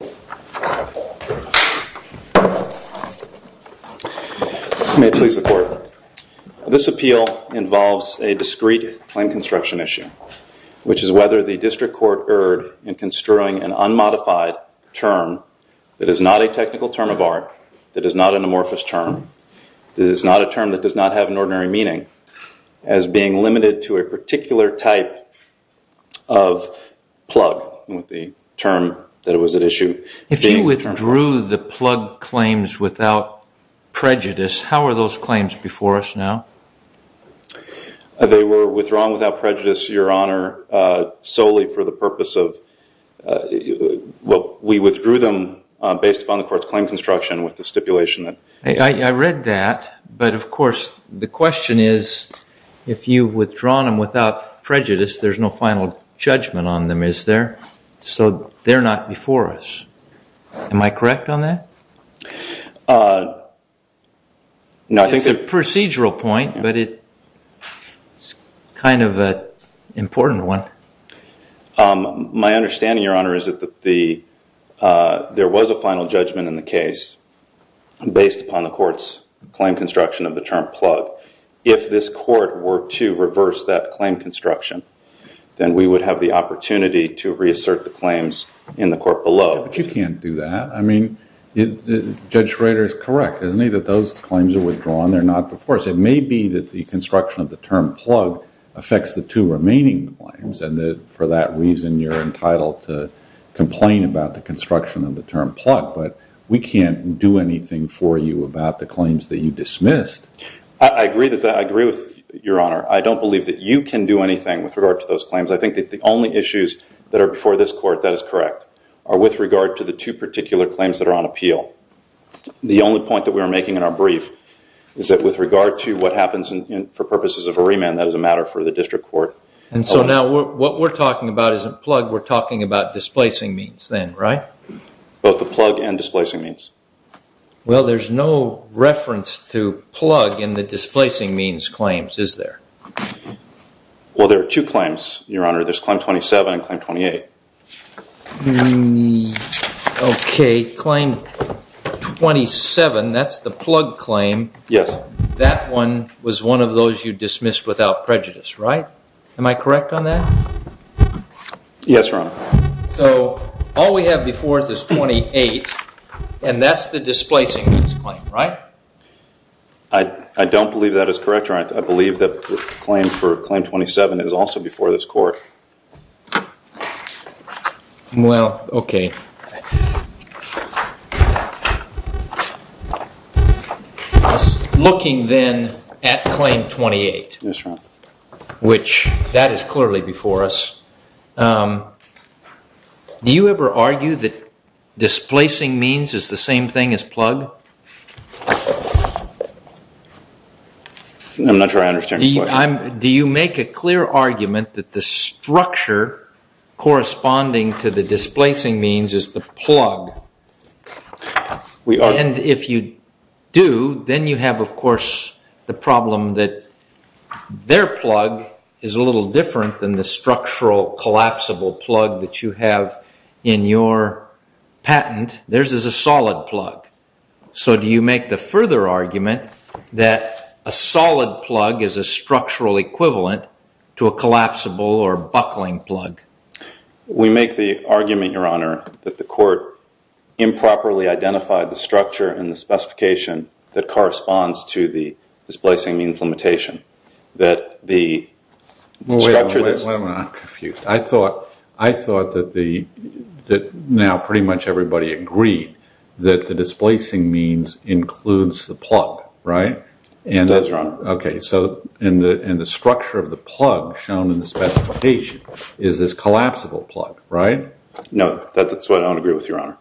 May it please the Court. This appeal involves a discrete claim construction issue, which is whether the District Court erred in construing an unmodified term that is not a technical term of art, that is not an amorphous term, that is not a term that does not have an ordinary meaning, as being If you withdrew the plug claims without prejudice, how are those claims before us now? They were withdrawn without prejudice, Your Honor, solely for the purpose of, well we withdrew them based upon the Court's claim construction with the stipulation that I read that, but of course the question is, if you've withdrawn them without prejudice there's no final judgment on them, is there? So they're not before us, am I correct on that? It's a procedural point, but it's kind of an important one. My understanding, Your Honor, is that there was a final judgment in the case based upon the Court's claim construction of the term plug. If this Court were to reverse that claim construction, then we would have the opportunity to reassert the claims in the Court below. You can't do that. I mean, Judge Schrader is correct, isn't he, that those claims are withdrawn, they're not before us. It may be that the construction of the term plug affects the two remaining claims, and for that reason you're entitled to complain about the construction of the term plug, but we can't do anything for you about the claims that you dismissed. I agree with that, I agree with you, Your Honor. I don't believe that you can do anything with regard to those claims. I think that the only issues that are before this Court, that is correct, are with regard to the two particular claims that are on appeal. The only point that we are making in our brief is that with regard to what happens for purposes of a remand, that is a matter for the District Court. And so now what we're talking about isn't plug, we're talking about displacing means then, right? Both the plug and displacing means. Well, there's no reference to plug in the displacing means claims, is there? Well, there are two claims, Your Honor, there's Claim 27 and Claim 28. Okay, Claim 27, that's the plug claim, that one was one of those you dismissed without prejudice, right? Am I correct on that? Yes, Your Honor. So, all we have before us is 28 and that's the displacing means claim, right? I don't believe that is correct, Your Honor. I believe that the claim for Claim 27 is also before this Court. Well, okay. Looking then at Claim 28, which that is clearly before us, do you ever argue that displacing means is the same thing as plug? I'm not sure I understand your question. Do you make a clear argument that the structure corresponding to the displacing means is the plug? And if you do, then you have, of course, the problem that their plug is a little different than the structural collapsible plug that you have in your patent. Theirs is a solid plug. So, do you make the further argument that a solid plug is a structural equivalent to a collapsible or buckling plug? We make the argument, Your Honor, that the Court improperly identified the structure and the specification that corresponds to the displacing means limitation. That the structure... Wait a minute. I'm confused. I thought that now pretty much everybody agreed that the displacing means includes the plug, right? It does, Your Honor. Okay. So, in the structure of the plug shown in the specification is this collapsible plug, right? No. That's what I don't agree with, Your Honor.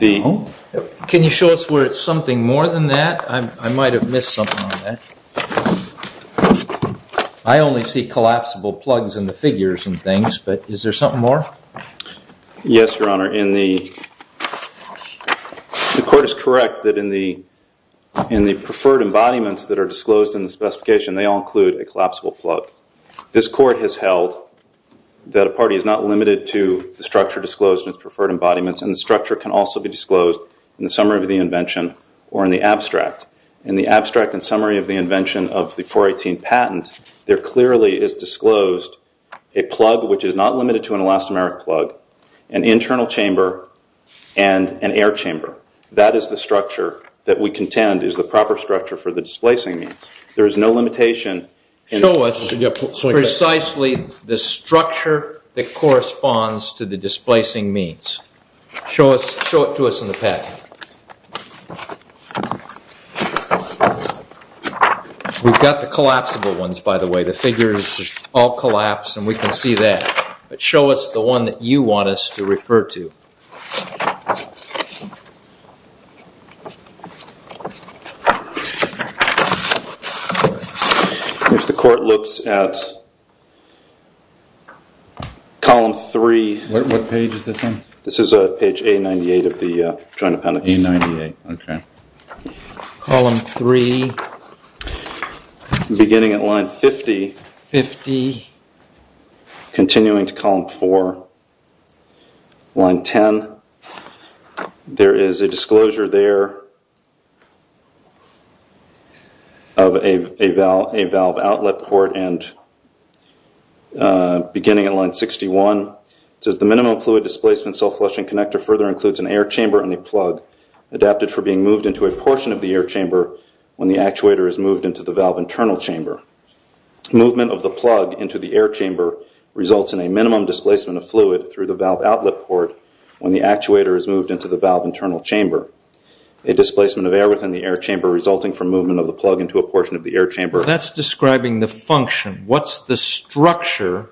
Can you show us where it's something more than that? I might have missed something on that. I only see collapsible plugs in the figures and things, but is there something more? Yes, Your Honor. Your Honor, the Court is correct that in the preferred embodiments that are disclosed in the specification, they all include a collapsible plug. This Court has held that a party is not limited to the structure disclosed in its preferred embodiments, and the structure can also be disclosed in the summary of the invention or in the abstract. In the abstract and summary of the invention of the 418 patent, there clearly is disclosed a plug which is not limited to an elastomeric plug, an internal chamber, and an air chamber. That is the structure that we contend is the proper structure for the displacing means. There is no limitation. Show us precisely the structure that corresponds to the displacing means. Show it to us in the packet. We've got the collapsible ones, by the way. The figures all collapse and we can see that, but show us the one that you want us to refer to. If the Court looks at column 3. What page is this on? This is page A98 of the Joint Appendix. A98, okay. Column 3. Beginning at line 50. Continuing to column 4. Line 10. There is a disclosure there of a valve outlet port and beginning at line 61. It says the minimum fluid displacement self-flushing connector further includes an air chamber and a plug adapted for being moved into a portion of the air chamber when the actuator is moved into the valve internal chamber. Movement of the plug into the air chamber results in a minimum displacement of fluid through the valve outlet port when the actuator is moved into the valve internal chamber. A displacement of air within the air chamber resulting from movement of the plug into a portion of the air chamber. That's describing the function. What's the structure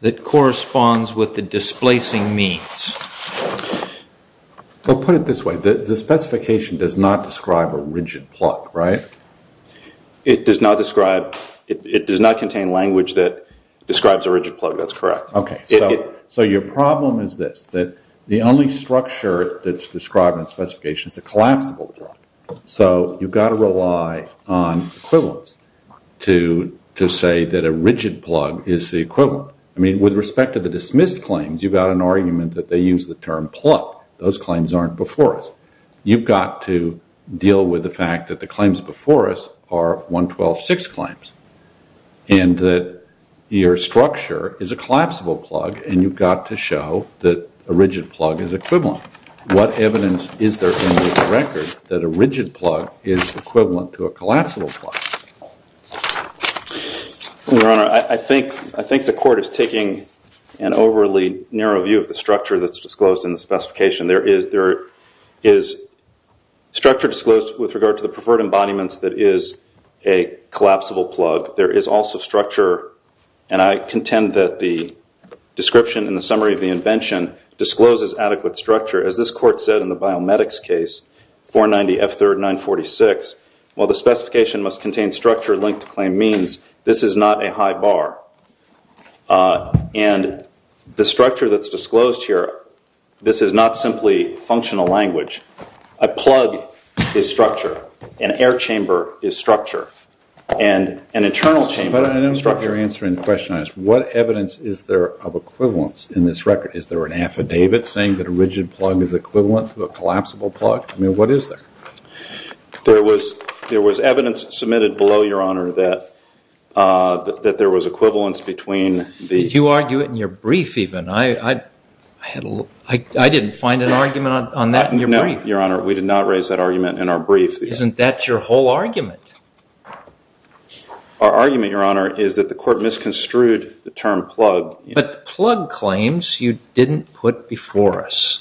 that corresponds with the displacing means? Put it this way. The specification does not describe a rigid plug, right? It does not describe, it does not contain language that describes a rigid plug. That's correct. Okay. So your problem is this. The only structure that's described in the specification is a collapsible plug. So you've got to rely on equivalence to say that a rigid plug is the equivalent. With respect to the dismissed claims, you've got an argument that they use the term plug. Those claims aren't before us. You've got to deal with the fact that the claims before us are 112-6 claims and that your structure is a collapsible plug and you've got to show that a rigid plug is equivalent. What evidence is there in this record that a rigid plug is equivalent to a collapsible plug? Your Honor, I think the court is taking an overly narrow view of the structure that's disclosed in the specification. There is structure disclosed with regard to the preferred embodiments that is a collapsible plug. There is also structure, and I contend that the description in the summary of the invention discloses adequate structure. As this court said in the biomedics case, 490 F3rd 946, while the specification must contain structure linked to claim means, this is not a high bar. And the structure that's disclosed here, this is not simply functional language. A plug is structure. An air chamber is structure. And an internal chamber is structure. But I don't understand your answer in the question. What evidence is there of equivalence in this record? Is there an affidavit saying that a rigid plug is equivalent to a collapsible plug? I mean, what is there? There was evidence submitted below, Your Honor, that there was equivalence between the- Did you argue it in your brief even? I didn't find an argument on that in your brief. No, Your Honor, we did not raise that argument in our brief. Isn't that your whole argument? Our argument, Your Honor, is that the court misconstrued the term plug. But the plug claims you didn't put before us.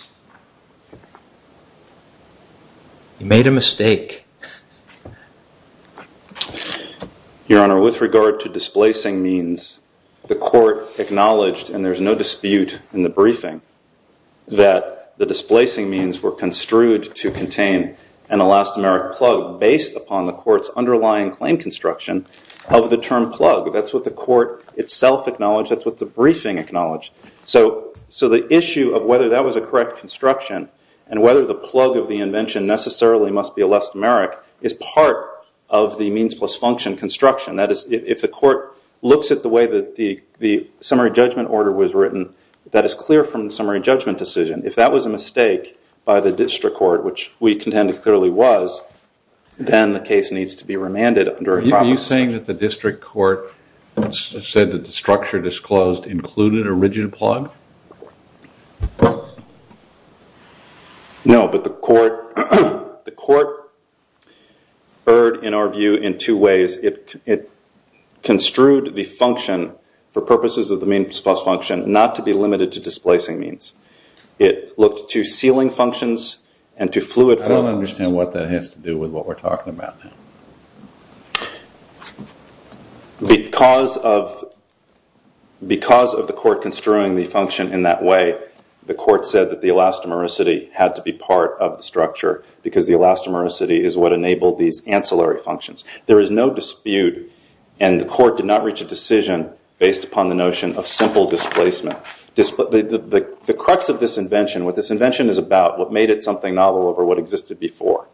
You made a mistake. Your Honor, with regard to displacing means, the court acknowledged, and there's no dispute in the briefing, that the displacing means were construed to contain an elastomeric plug based upon the court's underlying claim construction of the term plug. That's what the court itself acknowledged. That's what the briefing acknowledged. So the issue of whether that was a correct construction and whether the plug of the invention necessarily must be elastomeric is part of the means plus function construction. That is, if the court looks at the way that the summary judgment order was written, that is clear from the summary judgment decision. If that was a mistake by the district court, which we contend it clearly was, then the case needs to be remanded under a proper- Are you saying that the district court said that the structure disclosed included a rigid plug? No, but the court heard, in our view, in two ways. It construed the function for purposes of the means plus function not to be limited to displacing means. It looked to sealing functions and to fluid functions. I don't understand what that has to do with what we're talking about now. Because of the court construing the function in that way, the court said that the elastomericity had to be part of the structure because the elastomericity is what enabled these ancillary functions. There is no dispute, and the court did not reach a decision based upon the notion of simple displacement. The crux of this invention, what this invention is about, what made it something novel over what existed before,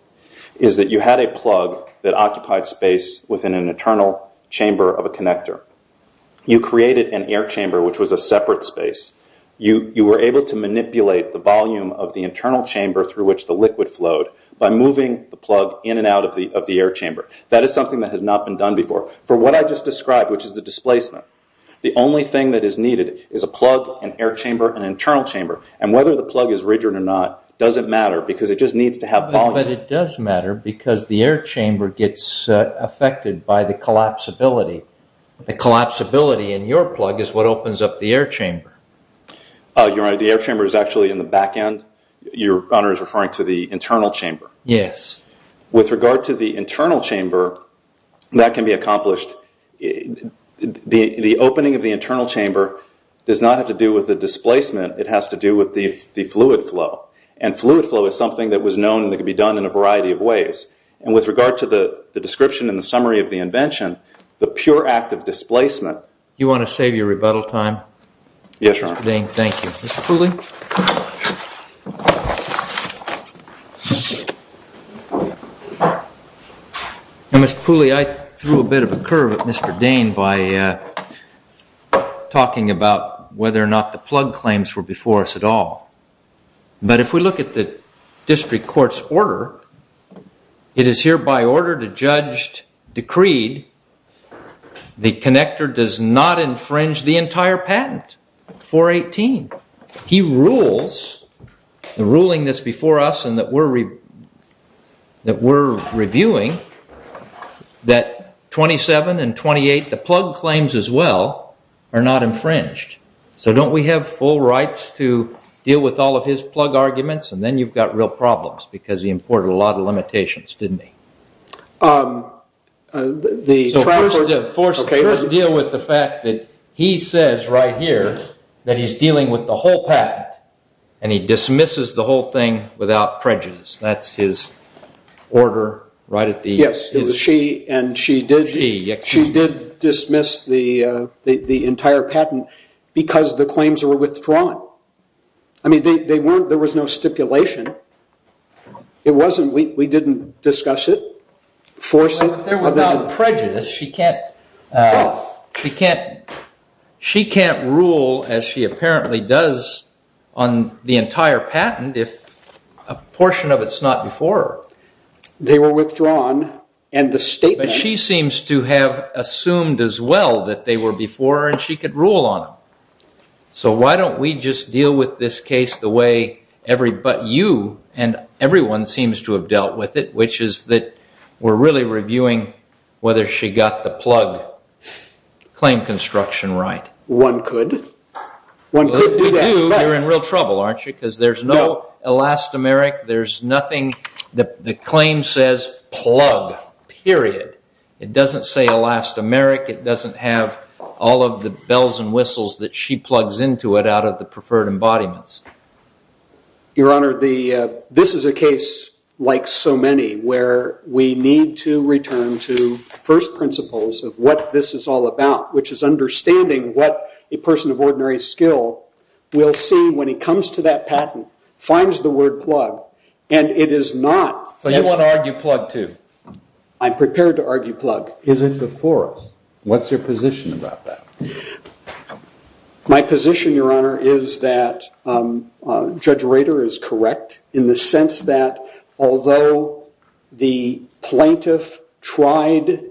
is that you had a plug that occupied space within an internal chamber of a connector. You created an air chamber, which was a separate space. You were able to manipulate the volume of the internal chamber through which the liquid flowed by moving the plug in and out of the air chamber. That is something that had not been done before. For what I just described, which is the displacement, the only thing that is needed is a plug, an air chamber, an internal chamber. Whether the plug is rigid or not doesn't matter because it just needs to have volume. But it does matter because the air chamber gets affected by the collapsibility. The collapsibility in your plug is what opens up the air chamber. You're right. The air chamber is actually in the back end. Your Honor is referring to the internal chamber. Yes. With regard to the internal chamber, that can be accomplished. The opening of the internal chamber does not have to do with the displacement. It has to do with the fluid flow. Fluid flow is something that was known that could be done in a variety of ways. With regard to the description and the summary of the invention, the pure act of displacement- Do you want to save your rebuttal time? Yes, Your Honor. Mr. Dane, thank you. Mr. Pooley? Mr. Pooley, I threw a bit of a curve at Mr. Dane by talking about whether or not the plug claims were before us at all. But if we look at the district court's order, it is hereby ordered, adjudged, decreed, the connector does not infringe the entire patent, 418. He rules, the ruling that's before us and that we're reviewing, that 27 and 28, the plug claims as well, are not infringed. So don't we have full rights to deal with all of his plug arguments? And then you've got real problems because he imported a lot of limitations, didn't he? Let's deal with the fact that he says right here that he's dealing with the whole patent and he dismisses the whole thing without prejudice. That's his order right at the- She did dismiss the entire patent because the claims were withdrawn. I mean, there was no stipulation. We didn't discuss it, force it. Without prejudice, she can't rule, as she apparently does, on the entire patent if a portion of it's not before her. They were withdrawn and the statement- But she seems to have assumed as well that they were before her and she could rule on them. So why don't we just deal with this case the way you and everyone seems to have dealt with it, which is that we're really reviewing whether she got the plug claim construction right. One could. One could do that, but- If you do, you're in real trouble, aren't you? Because there's no elastomeric. There's nothing- The claim says plug, period. It doesn't say elastomeric. It doesn't have all of the bells and whistles that she plugs into it out of the preferred embodiments. Your Honor, this is a case like so many where we need to return to first principles of what this is all about, which is understanding what a person of ordinary skill will see when he comes to that patent, finds the word plug, and it is not- So you want to argue plug too? I'm prepared to argue plug. Is it before us? What's your position about that? My position, Your Honor, is that Judge Rader is correct in the sense that although the plaintiff tried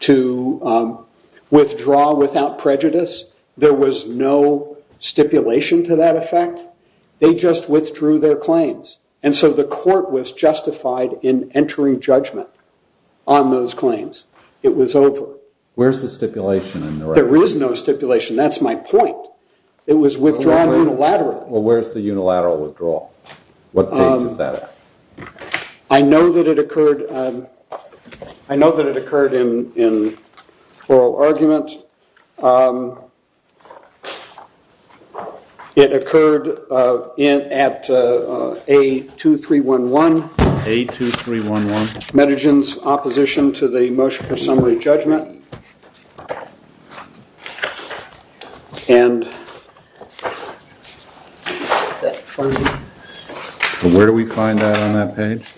to withdraw without prejudice, there was no stipulation to that effect. They just withdrew their claims. And so the court was justified in entering judgment on those claims. It was over. Where's the stipulation in the record? There is no stipulation. That's my point. It was withdrawn unilaterally. Well, where's the unilateral withdrawal? What page is that at? I know that it occurred in oral argument. It occurred at A2311. A2311. Medegin's opposition to the motion for summary judgment. Where do we find that on that page?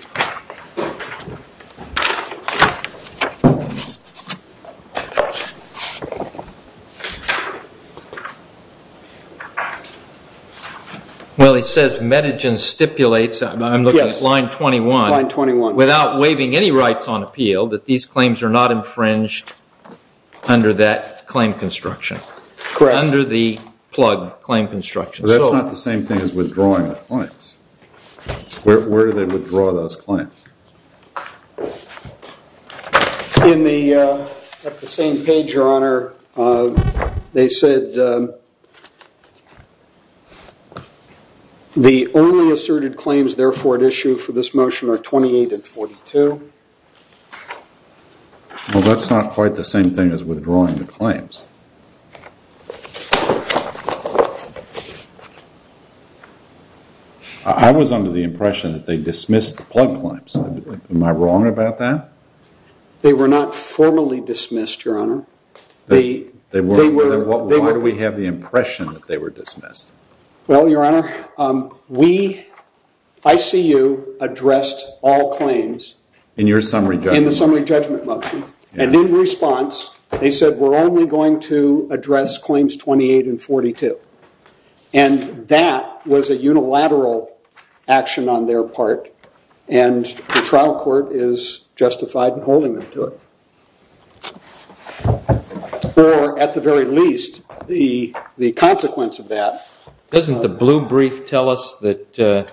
Well, it says Medegin stipulates, I'm looking at line 21, without waiving any rights on appeal, that these claims are not infringed under that claim construction, under the plug claim construction. But that's not the same thing as withdrawing the claims. Where do they withdraw those claims? At the same page, Your Honor, they said, the only asserted claims therefore at issue for this motion are 28 and 42. Well, that's not quite the same thing as withdrawing the claims. I was under the impression that they dismissed the plug claims. Am I wrong about that? They were not formally dismissed, Your Honor. Why do we have the impression that they were dismissed? Well, Your Honor, ICU addressed all claims in the summary judgment motion. And in response, they said, we're only going to address claims 28 and 42. And that was a unilateral action on their part. And the trial court is justified in holding them to it. Or at the very least, the consequence of that. Doesn't the blue brief tell us that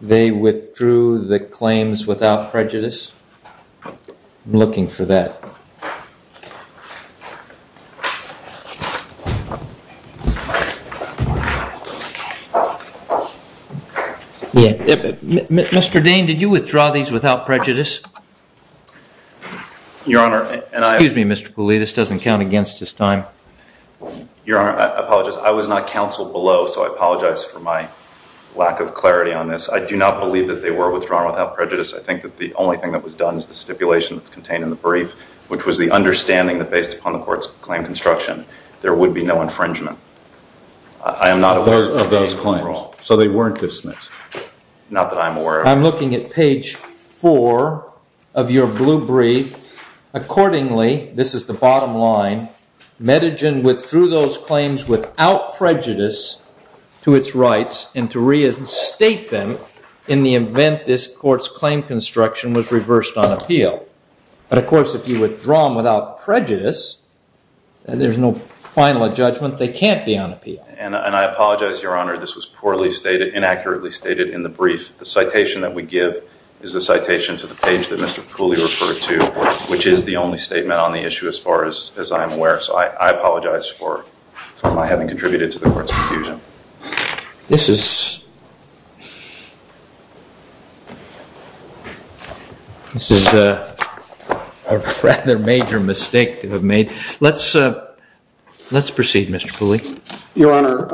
they withdrew the claims without prejudice? I'm looking for that. Mr. Dane, did you withdraw these without prejudice? Excuse me, Mr. Cooley, this doesn't count against his time. Your Honor, I apologize. I was not counseled below, so I apologize for my lack of clarity on this. I do not believe that they were withdrawn without prejudice. I think that the only thing that was done is the stipulation that's contained in the brief, which was the understanding that based upon the court's claim construction, there would be no infringement. I am not aware of those claims. So they weren't dismissed? Not that I'm aware of. I'm looking at page 4 of your blue brief. Accordingly, this is the bottom line, Medegin withdrew those claims without prejudice to its rights and to reinstate them in the event this court's claim construction was reversed on appeal. But, of course, if you withdraw them without prejudice, there's no final judgment they can't be on appeal. And I apologize, Your Honor, this was poorly stated, inaccurately stated in the brief. The citation that we give is the citation to the page that Mr. Cooley referred to, which is the only statement on the issue as far as I am aware. So I apologize for my having contributed to the court's confusion. This is a rather major mistake to have made. Let's proceed, Mr. Cooley. Your Honor,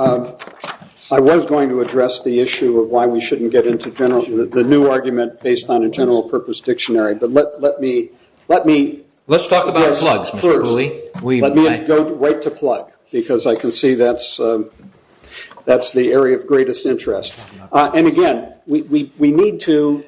I was going to address the issue of why we shouldn't get into the new argument based on a general purpose dictionary. But let me go right to plug because I can see that's the area of greatest interest. And, again, we need to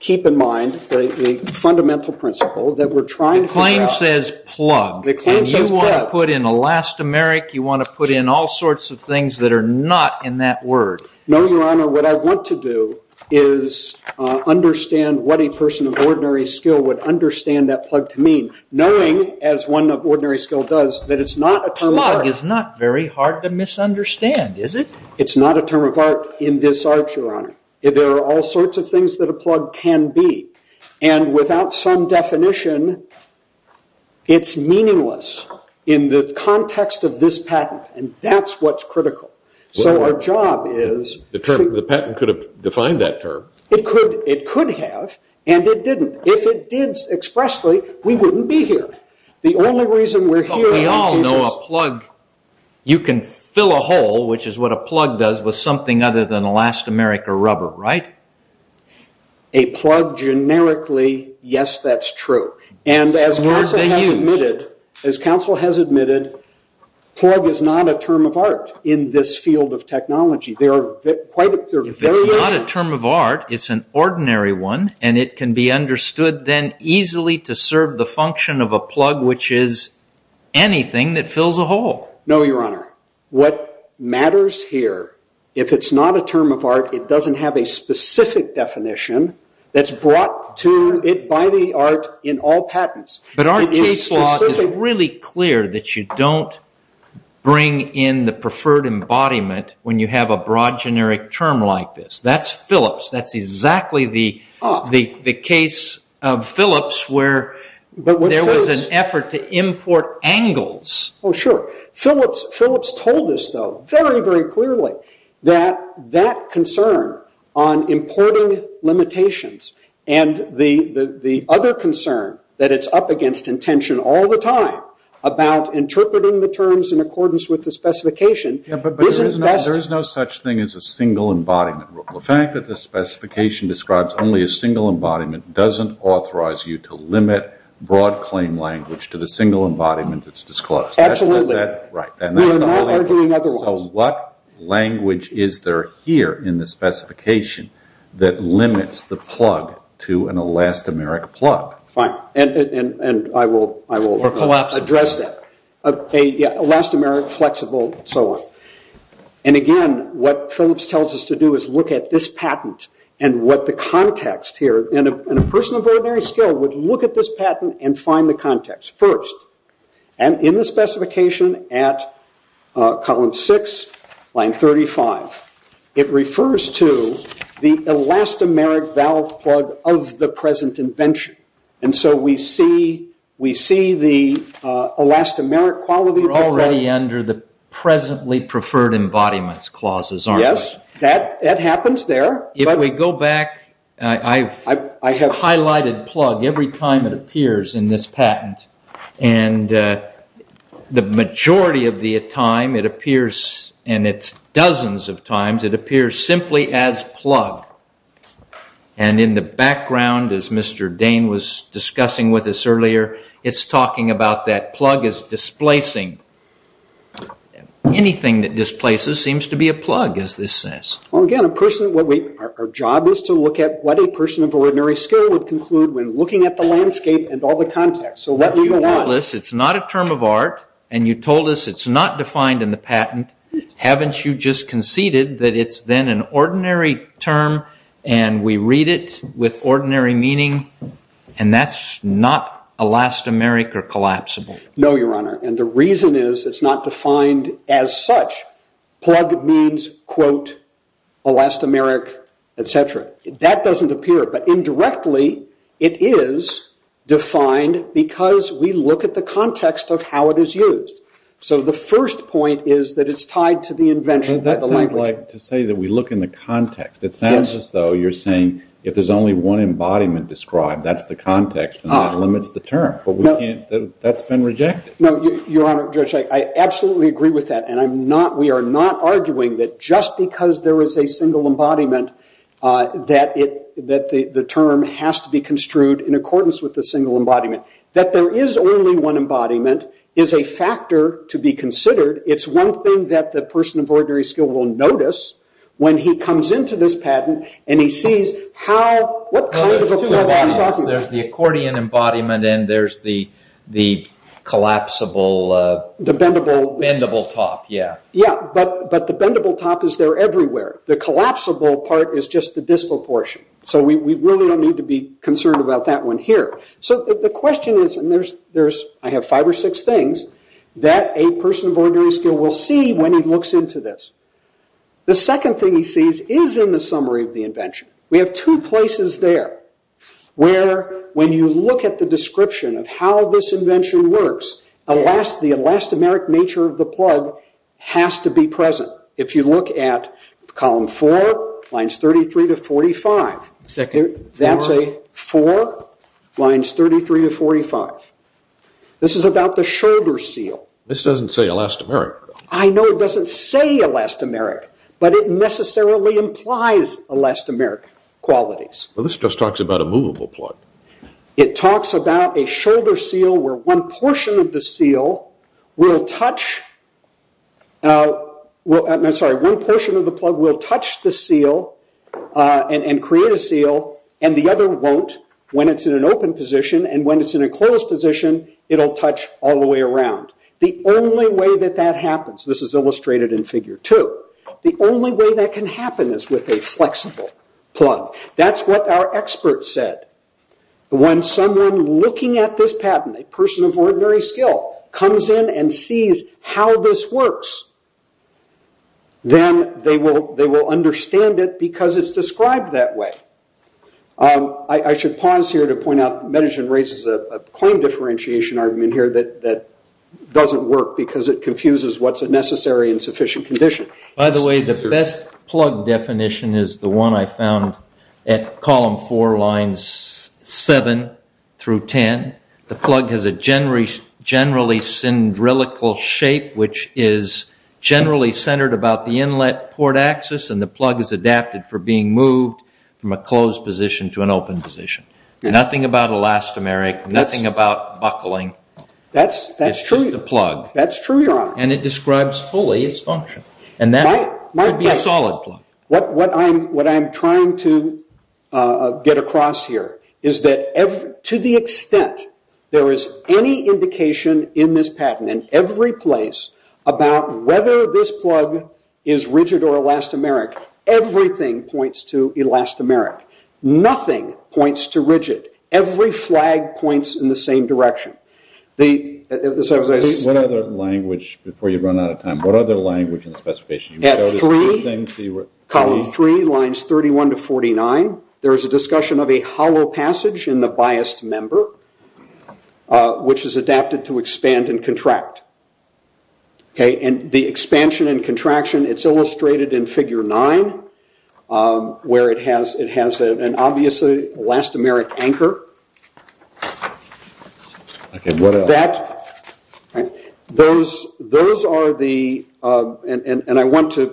keep in mind the fundamental principle that we're trying to figure out. The claim says plug. The claim says plug. And you want to put in elastomeric. You want to put in all sorts of things that are not in that word. No, Your Honor. What I want to do is understand what a person of ordinary skill would understand that plug to mean, knowing, as one of ordinary skill does, that it's not a term of art. Plug is not very hard to misunderstand, is it? It's not a term of art in this art, Your Honor. There are all sorts of things that a plug can be. And without some definition, it's meaningless in the context of this patent, and that's what's critical. So our job is to – The patent could have defined that term. It could have, and it didn't. If it did expressly, we wouldn't be here. The only reason we're here – We all know a plug, you can fill a hole, which is what a plug does, with something other than elastomeric or rubber, right? A plug generically, yes, that's true. And as counsel has admitted, plug is not a term of art in this field of technology. If it's not a term of art, it's an ordinary one, and it can be understood then easily to serve the function of a plug, which is anything that fills a hole. No, Your Honor. What matters here, if it's not a term of art, it doesn't have a specific definition that's brought to it by the art in all patents. But our case law is really clear that you don't bring in the preferred embodiment when you have a broad generic term like this. That's Phillips. That's exactly the case of Phillips where there was an effort to import angles. Oh, sure. Phillips told us, though, very, very clearly, that that concern on importing limitations and the other concern that it's up against intention all the time about interpreting the terms in accordance with the specification isn't best. Yeah, but there is no such thing as a single embodiment rule. The fact that the specification describes only a single embodiment doesn't authorize you to limit broad claim language to the single embodiment that's disclosed. Absolutely. We are not arguing otherwise. So what language is there here in the specification that limits the plug to an elastomeric plug? Fine, and I will address that. Elastomeric, flexible, and so on. And again, what Phillips tells us to do is look at this patent and what the context here, and a person of ordinary skill would look at this patent and find the context first. And in the specification at column 6, line 35, it refers to the elastomeric valve plug of the present invention. And so we see the elastomeric quality of the plug. We're already under the presently preferred embodiments clauses, aren't we? Yes, that happens there. If we go back, I've highlighted plug every time it appears in this patent. And the majority of the time it appears, and it's dozens of times, it appears simply as plug. And in the background, as Mr. Dane was discussing with us earlier, it's talking about that plug as displacing. Anything that displaces seems to be a plug, as this says. Well, again, our job is to look at what a person of ordinary skill would conclude when looking at the landscape and all the context. But you told us it's not a term of art, and you told us it's not defined in the patent. Haven't you just conceded that it's then an ordinary term, and we read it with ordinary meaning, and that's not elastomeric or collapsible? No, Your Honor. And the reason is it's not defined as such. Plug means, quote, elastomeric, et cetera. That doesn't appear, but indirectly it is defined because we look at the context of how it is used. So the first point is that it's tied to the invention of the language. But that sounds like to say that we look in the context. It sounds as though you're saying if there's only one embodiment described, that's the context, and that limits the term. But that's been rejected. No, Your Honor, Judge, I absolutely agree with that. And we are not arguing that just because there is a single embodiment that the term has to be construed in accordance with the single embodiment. That there is only one embodiment is a factor to be considered. It's one thing that the person of ordinary skill will notice when he comes into this patent and he sees how, what kind of a tool are we talking about? So there's the accordion embodiment and there's the collapsible, bendable top. Yeah, but the bendable top is there everywhere. The collapsible part is just the distal portion. So we really don't need to be concerned about that one here. So the question is, and I have five or six things, that a person of ordinary skill will see when he looks into this. The second thing he sees is in the summary of the invention. We have two places there where when you look at the description of how this invention works, the elastomeric nature of the plug has to be present. If you look at column four, lines 33 to 45. That's a four, lines 33 to 45. This is about the shoulder seal. This doesn't say elastomeric. I know it doesn't say elastomeric, but it necessarily implies elastomeric qualities. Well, this just talks about a movable plug. It talks about a shoulder seal where one portion of the seal will touch, I'm sorry, one portion of the plug will touch the seal and create a seal and the other won't when it's in an open position. And when it's in a closed position, it'll touch all the way around. The only way that that happens, this is illustrated in figure two, the only way that can happen is with a flexible plug. That's what our expert said. When someone looking at this patent, a person of ordinary skill, comes in and sees how this works, then they will understand it because it's described that way. I should pause here to point out that Metagen raises a coin differentiation argument here that doesn't work because it confuses what's a necessary and sufficient condition. By the way, the best plug definition is the one I found at column four, lines 7 through 10. The plug has a generally syndrilical shape, which is generally centered about the inlet port axis, and the plug is adapted for being moved from a closed position to an open position. Nothing about elastomeric, nothing about buckling, it's just a plug. That's true, Your Honor. And it describes fully its function. And that could be a solid plug. What I'm trying to get across here is that to the extent there is any indication in this patent, in every place, about whether this plug is rigid or elastomeric, everything points to elastomeric. Nothing points to rigid. Every flag points in the same direction. What other language, before you run out of time, what other language in the specification? At three, column three, lines 31 to 49, there is a discussion of a hollow passage in the biased member, which is adapted to expand and contract. And the expansion and contraction, it's illustrated in figure nine, where it has an obviously elastomeric anchor. And I want to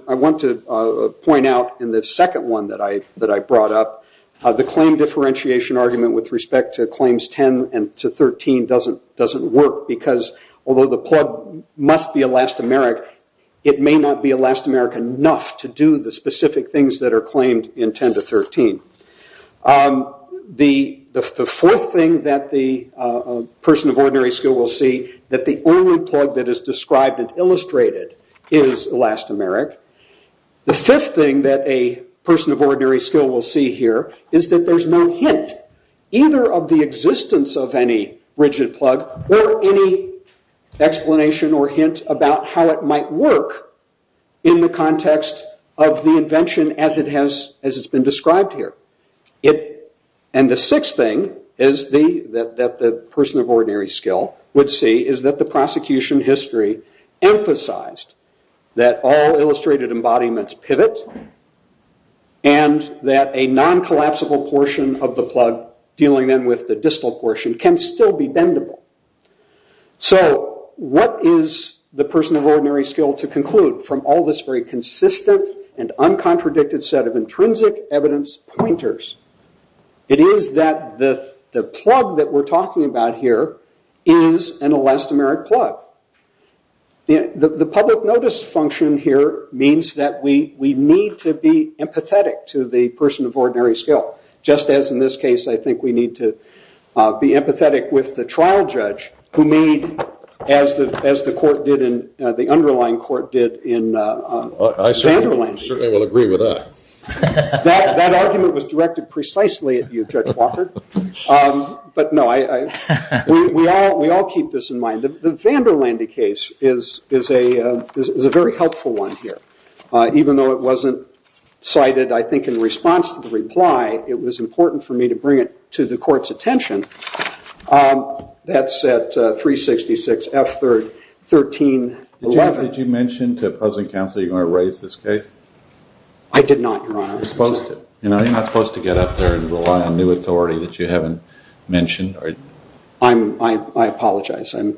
point out in the second one that I brought up, the claim differentiation argument with respect to claims 10 and to 13 doesn't work, because although the plug must be elastomeric, it may not be elastomeric enough to do the specific things that are claimed in 10 to 13. The fourth thing that the person of ordinary skill will see, that the only plug that is described and illustrated is elastomeric. The fifth thing that a person of ordinary skill will see here is that there's no hint either of the existence of any rigid plug or any explanation or hint about how it might work in the context of the invention as it's been described here. And the sixth thing that the person of ordinary skill would see is that the prosecution history emphasized that all illustrated embodiments pivot and that a non-collapsible portion of the plug, dealing then with the distal portion, can still be bendable. So what is the person of ordinary skill to conclude from all this very consistent and uncontradicted set of intrinsic evidence pointers? It is that the plug that we're talking about here is an elastomeric plug. The public notice function here means that we need to be empathetic to the person of ordinary skill, just as in this case I think we need to be empathetic with the trial judge who made, as the underlying court did in Vanderlande. I certainly will agree with that. That argument was directed precisely at you, Judge Walker. But no, we all keep this in mind. The Vanderlande case is a very helpful one here, even though it wasn't cited, I think, in response to the reply. It was important for me to bring it to the court's attention. That's at 366 F1311. Did you mention to opposing counsel you were going to raise this case? I did not, Your Honor. You're not supposed to get up there and rely on new authority that you haven't mentioned. I apologize. I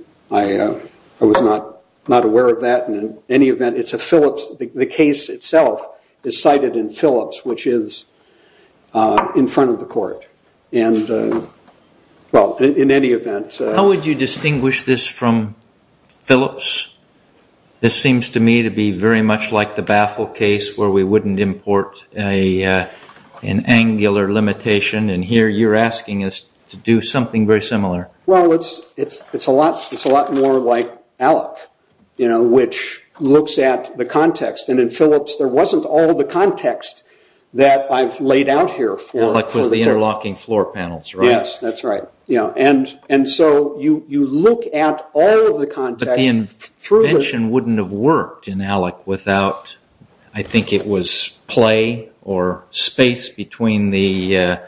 was not aware of that. The case itself is cited in Phillips, which is in front of the court. How would you distinguish this from Phillips? This seems to me to be very much like the Baffle case where we wouldn't import an angular limitation, and here you're asking us to do something very similar. It's a lot more like ALEC, which looks at the context. In Phillips, there wasn't all the context that I've laid out here for the court. ALEC was the interlocking floor panels, right? Yes, that's right. You look at all of the context. But the invention wouldn't have worked in ALEC without, I think it was, play or space between the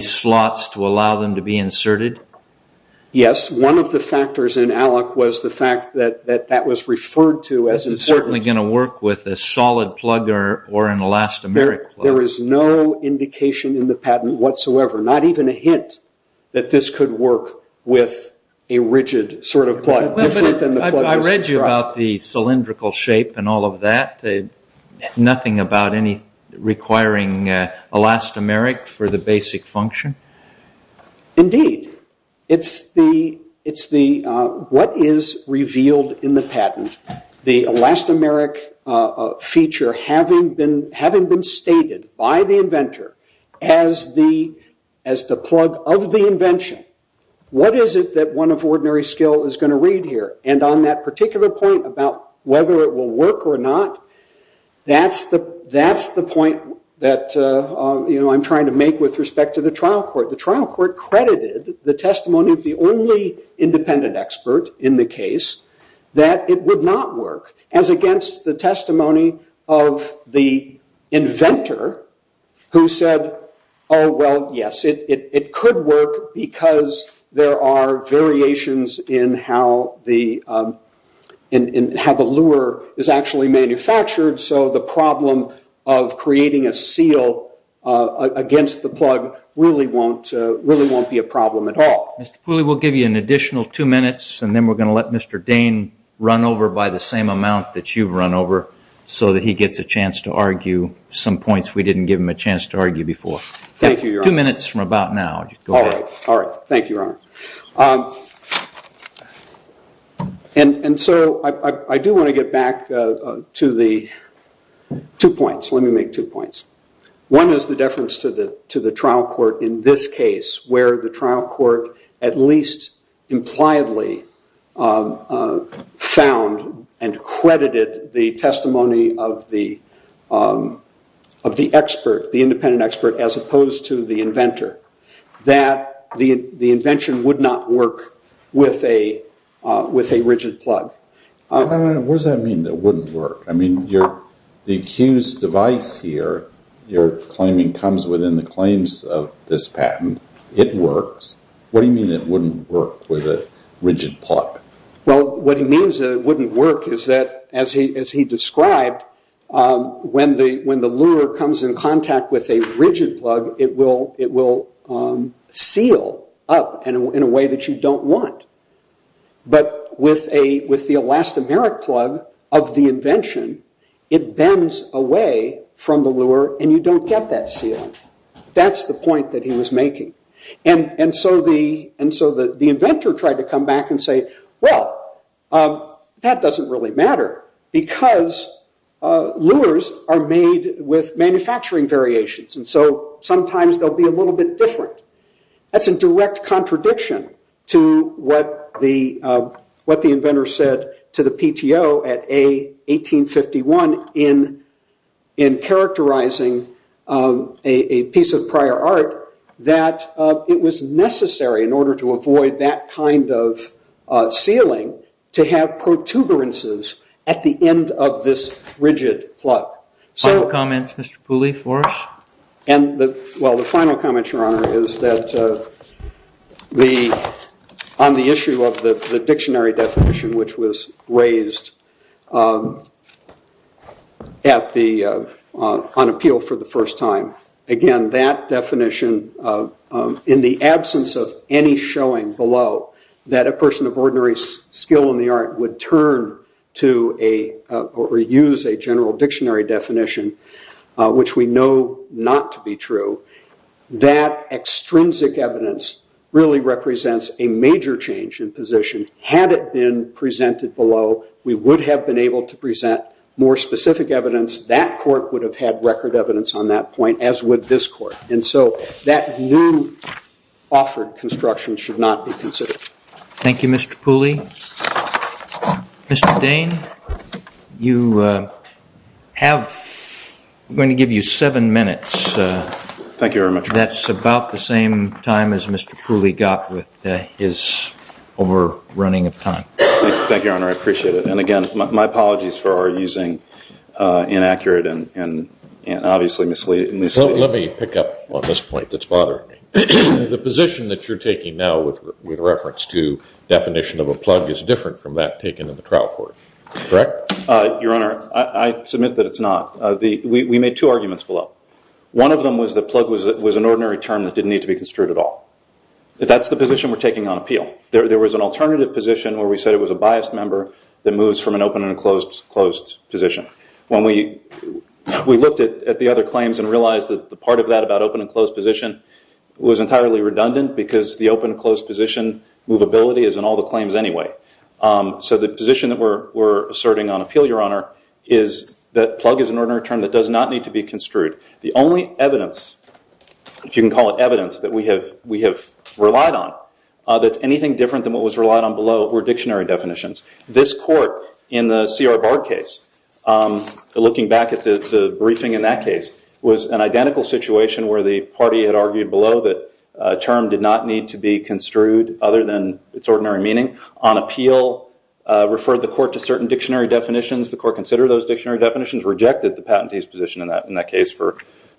slots to allow them to be inserted? Yes. One of the factors in ALEC was the fact that that was referred to as inserted. It's certainly going to work with a solid plug or an elastomeric plug. There is no indication in the patent whatsoever, not even a hint that this could work with a rigid sort of plug, different than the plug that's described. I read you about the cylindrical shape and all of that. Nothing about requiring elastomeric for the basic function? Indeed. What is revealed in the patent, the elastomeric feature having been stated by the inventor as the plug of the invention, what is it that one of ordinary skill is going to read here? And on that particular point about whether it will work or not, that's the point that I'm trying to make with respect to the trial court. The trial court credited the testimony of the only independent expert in the case that it would not work, as against the testimony of the inventor who said, Oh, well, yes. It could work because there are variations in how the lure is actually manufactured, so the problem of creating a seal against the plug really won't be a problem at all. Mr. Pooley, we'll give you an additional two minutes and then we're going to let Mr. Dane run over by the same amount that you've run over so that he gets a chance to argue some points we didn't give him a chance to argue before. Thank you, Your Honor. Two minutes from about now. All right. Thank you, Your Honor. And so I do want to get back to the two points. Let me make two points. One is the difference to the trial court in this case where the trial court at least impliedly found and credited the testimony of the expert, the independent expert, as opposed to the inventor, that the invention would not work with a rigid plug. What does that mean, that it wouldn't work? I mean, the accused's device here, your claiming, comes within the claims of this patent. It works. What do you mean it wouldn't work with a rigid plug? Well, what he means that it wouldn't work is that, as he described, when the lure comes in contact with a rigid plug, it will seal up in a way that you don't want. But with the elastomeric plug of the invention, it bends away from the lure and you don't get that seal. That's the point that he was making. So the inventor tried to come back and say, well, that doesn't really matter because lures are made with manufacturing variations, and so sometimes they'll be a little bit different. That's a direct contradiction to what the inventor said to the PTO at A1851 in characterizing a piece of prior art that it was necessary, in order to avoid that kind of sealing, to have protuberances at the end of this rigid plug. Final comments, Mr. Pooley, for us? Well, the final comment, Your Honor, is that on the issue of the dictionary definition, which was raised on appeal for the first time, again, that definition, in the absence of any showing below that a person of ordinary skill in the art would turn to or use a general dictionary definition, which we know not to be true, that extrinsic evidence really represents a major change in position had it been presented below, we would have been able to present more specific evidence. That court would have had record evidence on that point, as would this court. And so that new offered construction should not be considered. Thank you, Mr. Pooley. Mr. Dane, I'm going to give you seven minutes. Thank you very much, Your Honor. That's about the same time as Mr. Pooley got with his overrunning of time. Thank you, Your Honor. I appreciate it. And again, my apologies for our using inaccurate and obviously misleading. Let me pick up on this point that's bothering me. The position that you're taking now with reference to definition of a plug is different from that taken in the trial court, correct? Your Honor, I submit that it's not. We made two arguments below. One of them was that plug was an ordinary term that didn't need to be construed at all. That's the position we're taking on appeal. There was an alternative position where we said it was a biased member that moves from an open and closed position. When we looked at the other claims and realized that the part of that about open and closed position was entirely redundant because the open and closed position movability is in all the claims anyway. So the position that we're asserting on appeal, Your Honor, is that plug is an ordinary term that does not need to be construed. The only evidence, if you can call it evidence, that we have relied on that's anything different than what was relied on below were dictionary definitions. This court in the C.R. Bard case, looking back at the briefing in that case, was an identical situation where the party had argued below that a term did not need to be construed other than its ordinary meaning. On appeal referred the court to certain dictionary definitions. The court considered those dictionary definitions, rejected the patentee's position in that case for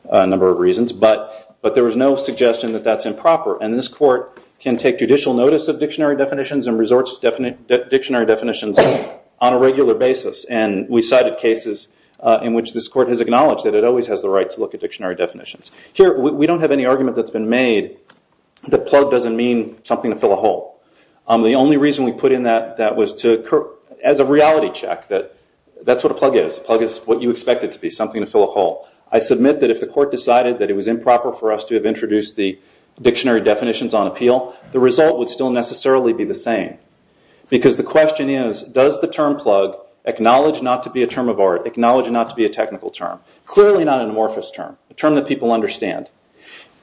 a number of reasons, but there was no suggestion that that's improper. This court can take judicial notice of dictionary definitions and resorts to dictionary definitions on a regular basis. We cited cases in which this court has acknowledged that it always has the right to look at dictionary definitions. Here, we don't have any argument that's been made that plug doesn't mean something to fill a hole. The only reason we put in that was as a reality check. That's what a plug is. A plug is what you expect it to be, something to fill a hole. I submit that if the court decided that it was improper for us to have introduced the dictionary definitions on appeal, the result would still necessarily be the same. The question is, does the term plug acknowledge not to be a term of art, acknowledge not to be a technical term? Clearly not an amorphous term, a term that people understand.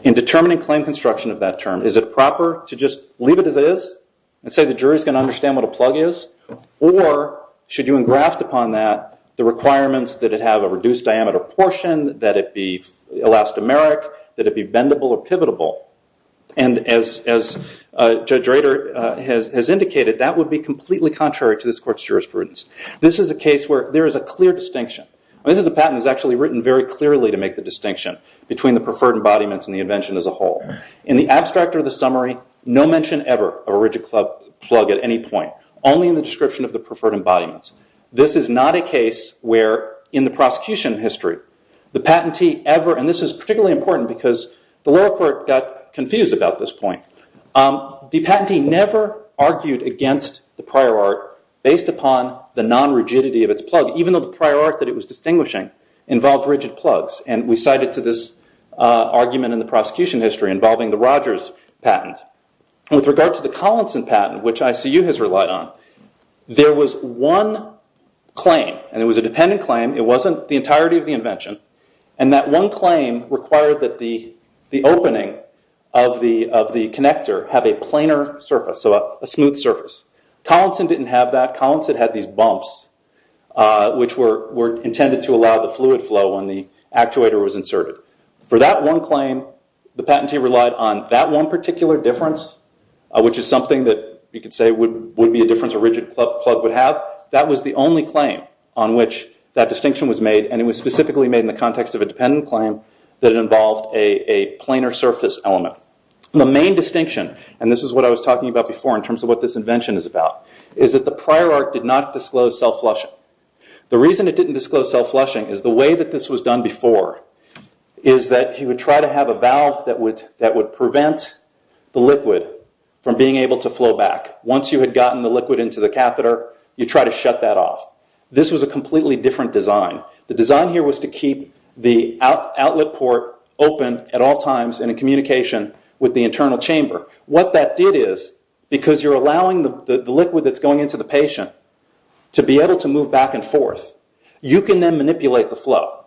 In determining claim construction of that term, is it proper to just leave it as it is and say the jury's going to understand what a plug is? Or should you engraft upon that the requirements that it have a reduced diameter portion, that it be elastomeric, that it be bendable or pivotable? As Judge Rader has indicated, that would be completely contrary to this court's jurisprudence. This is a case where there is a clear distinction. This is a patent that's actually written very clearly to make the distinction between the preferred embodiments and the invention as a whole. In the abstract or the summary, no mention ever of a rigid plug at any point, only in the description of the preferred embodiments. This is not a case where, in the prosecution history, the patentee ever, and this is particularly important because the lower court got confused about this point, the patentee never argued against the prior art based upon the non-rigidity of its plug, even though the prior art that it was distinguishing involved rigid plugs. We cite it to this argument in the prosecution history involving the Rogers patent. With regard to the Collinson patent, which ICU has relied on, there was one claim, and it was a dependent claim, it wasn't the entirety of the invention, and that one claim required that the opening of the connector have a planar surface, so a smooth surface. Collinson didn't have that. Collinson had these bumps, which were intended to allow the fluid flow when the actuator was inserted. For that one claim, the patentee relied on that one particular difference, which is something that you could say would be a difference a rigid plug would have. That was the only claim on which that distinction was made, and it was specifically made in the context of a dependent claim that it involved a planar surface element. The main distinction, and this is what I was talking about before in terms of what this invention is about, is that the prior art did not disclose self-flushing. The reason it didn't disclose self-flushing is the way that this was done before is that you would try to have a valve that would prevent the liquid from being able to flow back. Once you had gotten the liquid into the catheter, you'd try to shut that off. This was a completely different design. The design here was to keep the outlet port open at all times and in communication with the internal chamber. What that did is, because you're allowing the liquid that's going into the patient to be able to move back and forth, you can then manipulate the flow.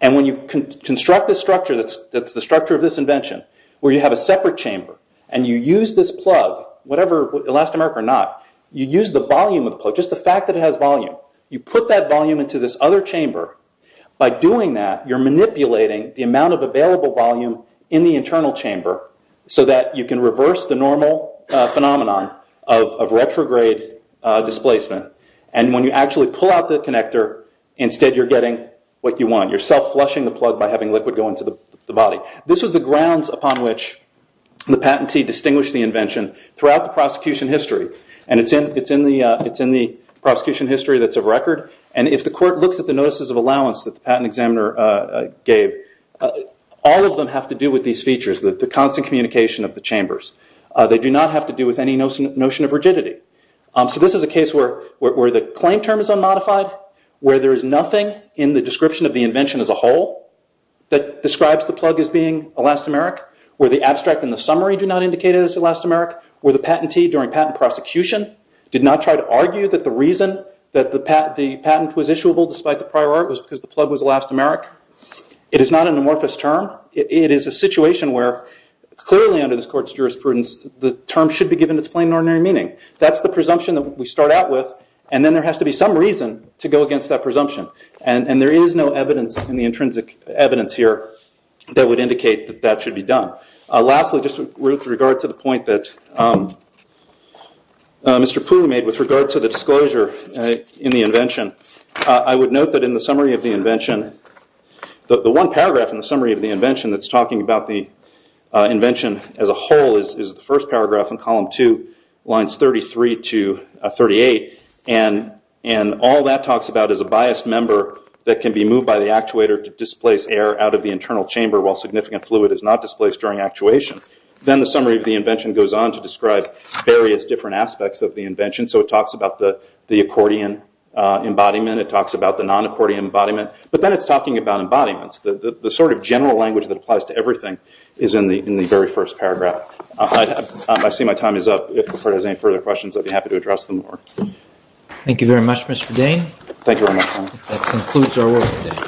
When you construct the structure that's the structure of this invention, where you have a separate chamber, and you use this plug, whatever, elastomeric or not, you use the volume of the plug, just the fact that it has volume. You put that volume into this other chamber. By doing that, you're manipulating the amount of available volume in the internal chamber so that you can reverse the normal phenomenon of retrograde displacement. When you actually pull out the connector, instead you're getting what you want. You're self-flushing the plug by having liquid go into the body. This was the grounds upon which the patentee distinguished the invention throughout the prosecution history. It's in the prosecution history that's of record. If the court looks at the notices of allowance that the patent examiner gave, all of them have to do with these features, the constant communication of the chambers. They do not have to do with any notion of rigidity. This is a case where the claim term is unmodified, where there is nothing in the description of the invention as a whole that describes the plug as being elastomeric, where the abstract and the summary do not indicate it as elastomeric, where the patentee during patent prosecution did not try to argue that the reason that the patent was issuable despite the prior art was because the plug was elastomeric. It is not an amorphous term. It is a situation where, clearly under this court's jurisprudence, the term should be given its plain and ordinary meaning. That's the presumption that we start out with, and then there has to be some reason to go against that presumption. And there is no evidence in the intrinsic evidence here that would indicate that that should be done. Lastly, just with regard to the point that Mr. Poole made with regard to the disclosure in the invention, I would note that in the summary of the invention, the one paragraph in the summary of the invention that's talking about the invention as a whole is the first paragraph in column 2, lines 33 to 38. And all that talks about is a biased member that can be moved by the actuator to displace air out of the internal chamber while significant fluid is not displaced during actuation. Then the summary of the invention goes on to describe various different aspects of the invention. So it talks about the accordion embodiment. It talks about the non-accordion embodiment. But then it's talking about embodiments. The sort of general language that applies to everything is in the very first paragraph. I see my time is up. If Clifford has any further questions, I'd be happy to address them more. Thank you very much, Mr. Dane. Thank you very much, Tom. That concludes our work today.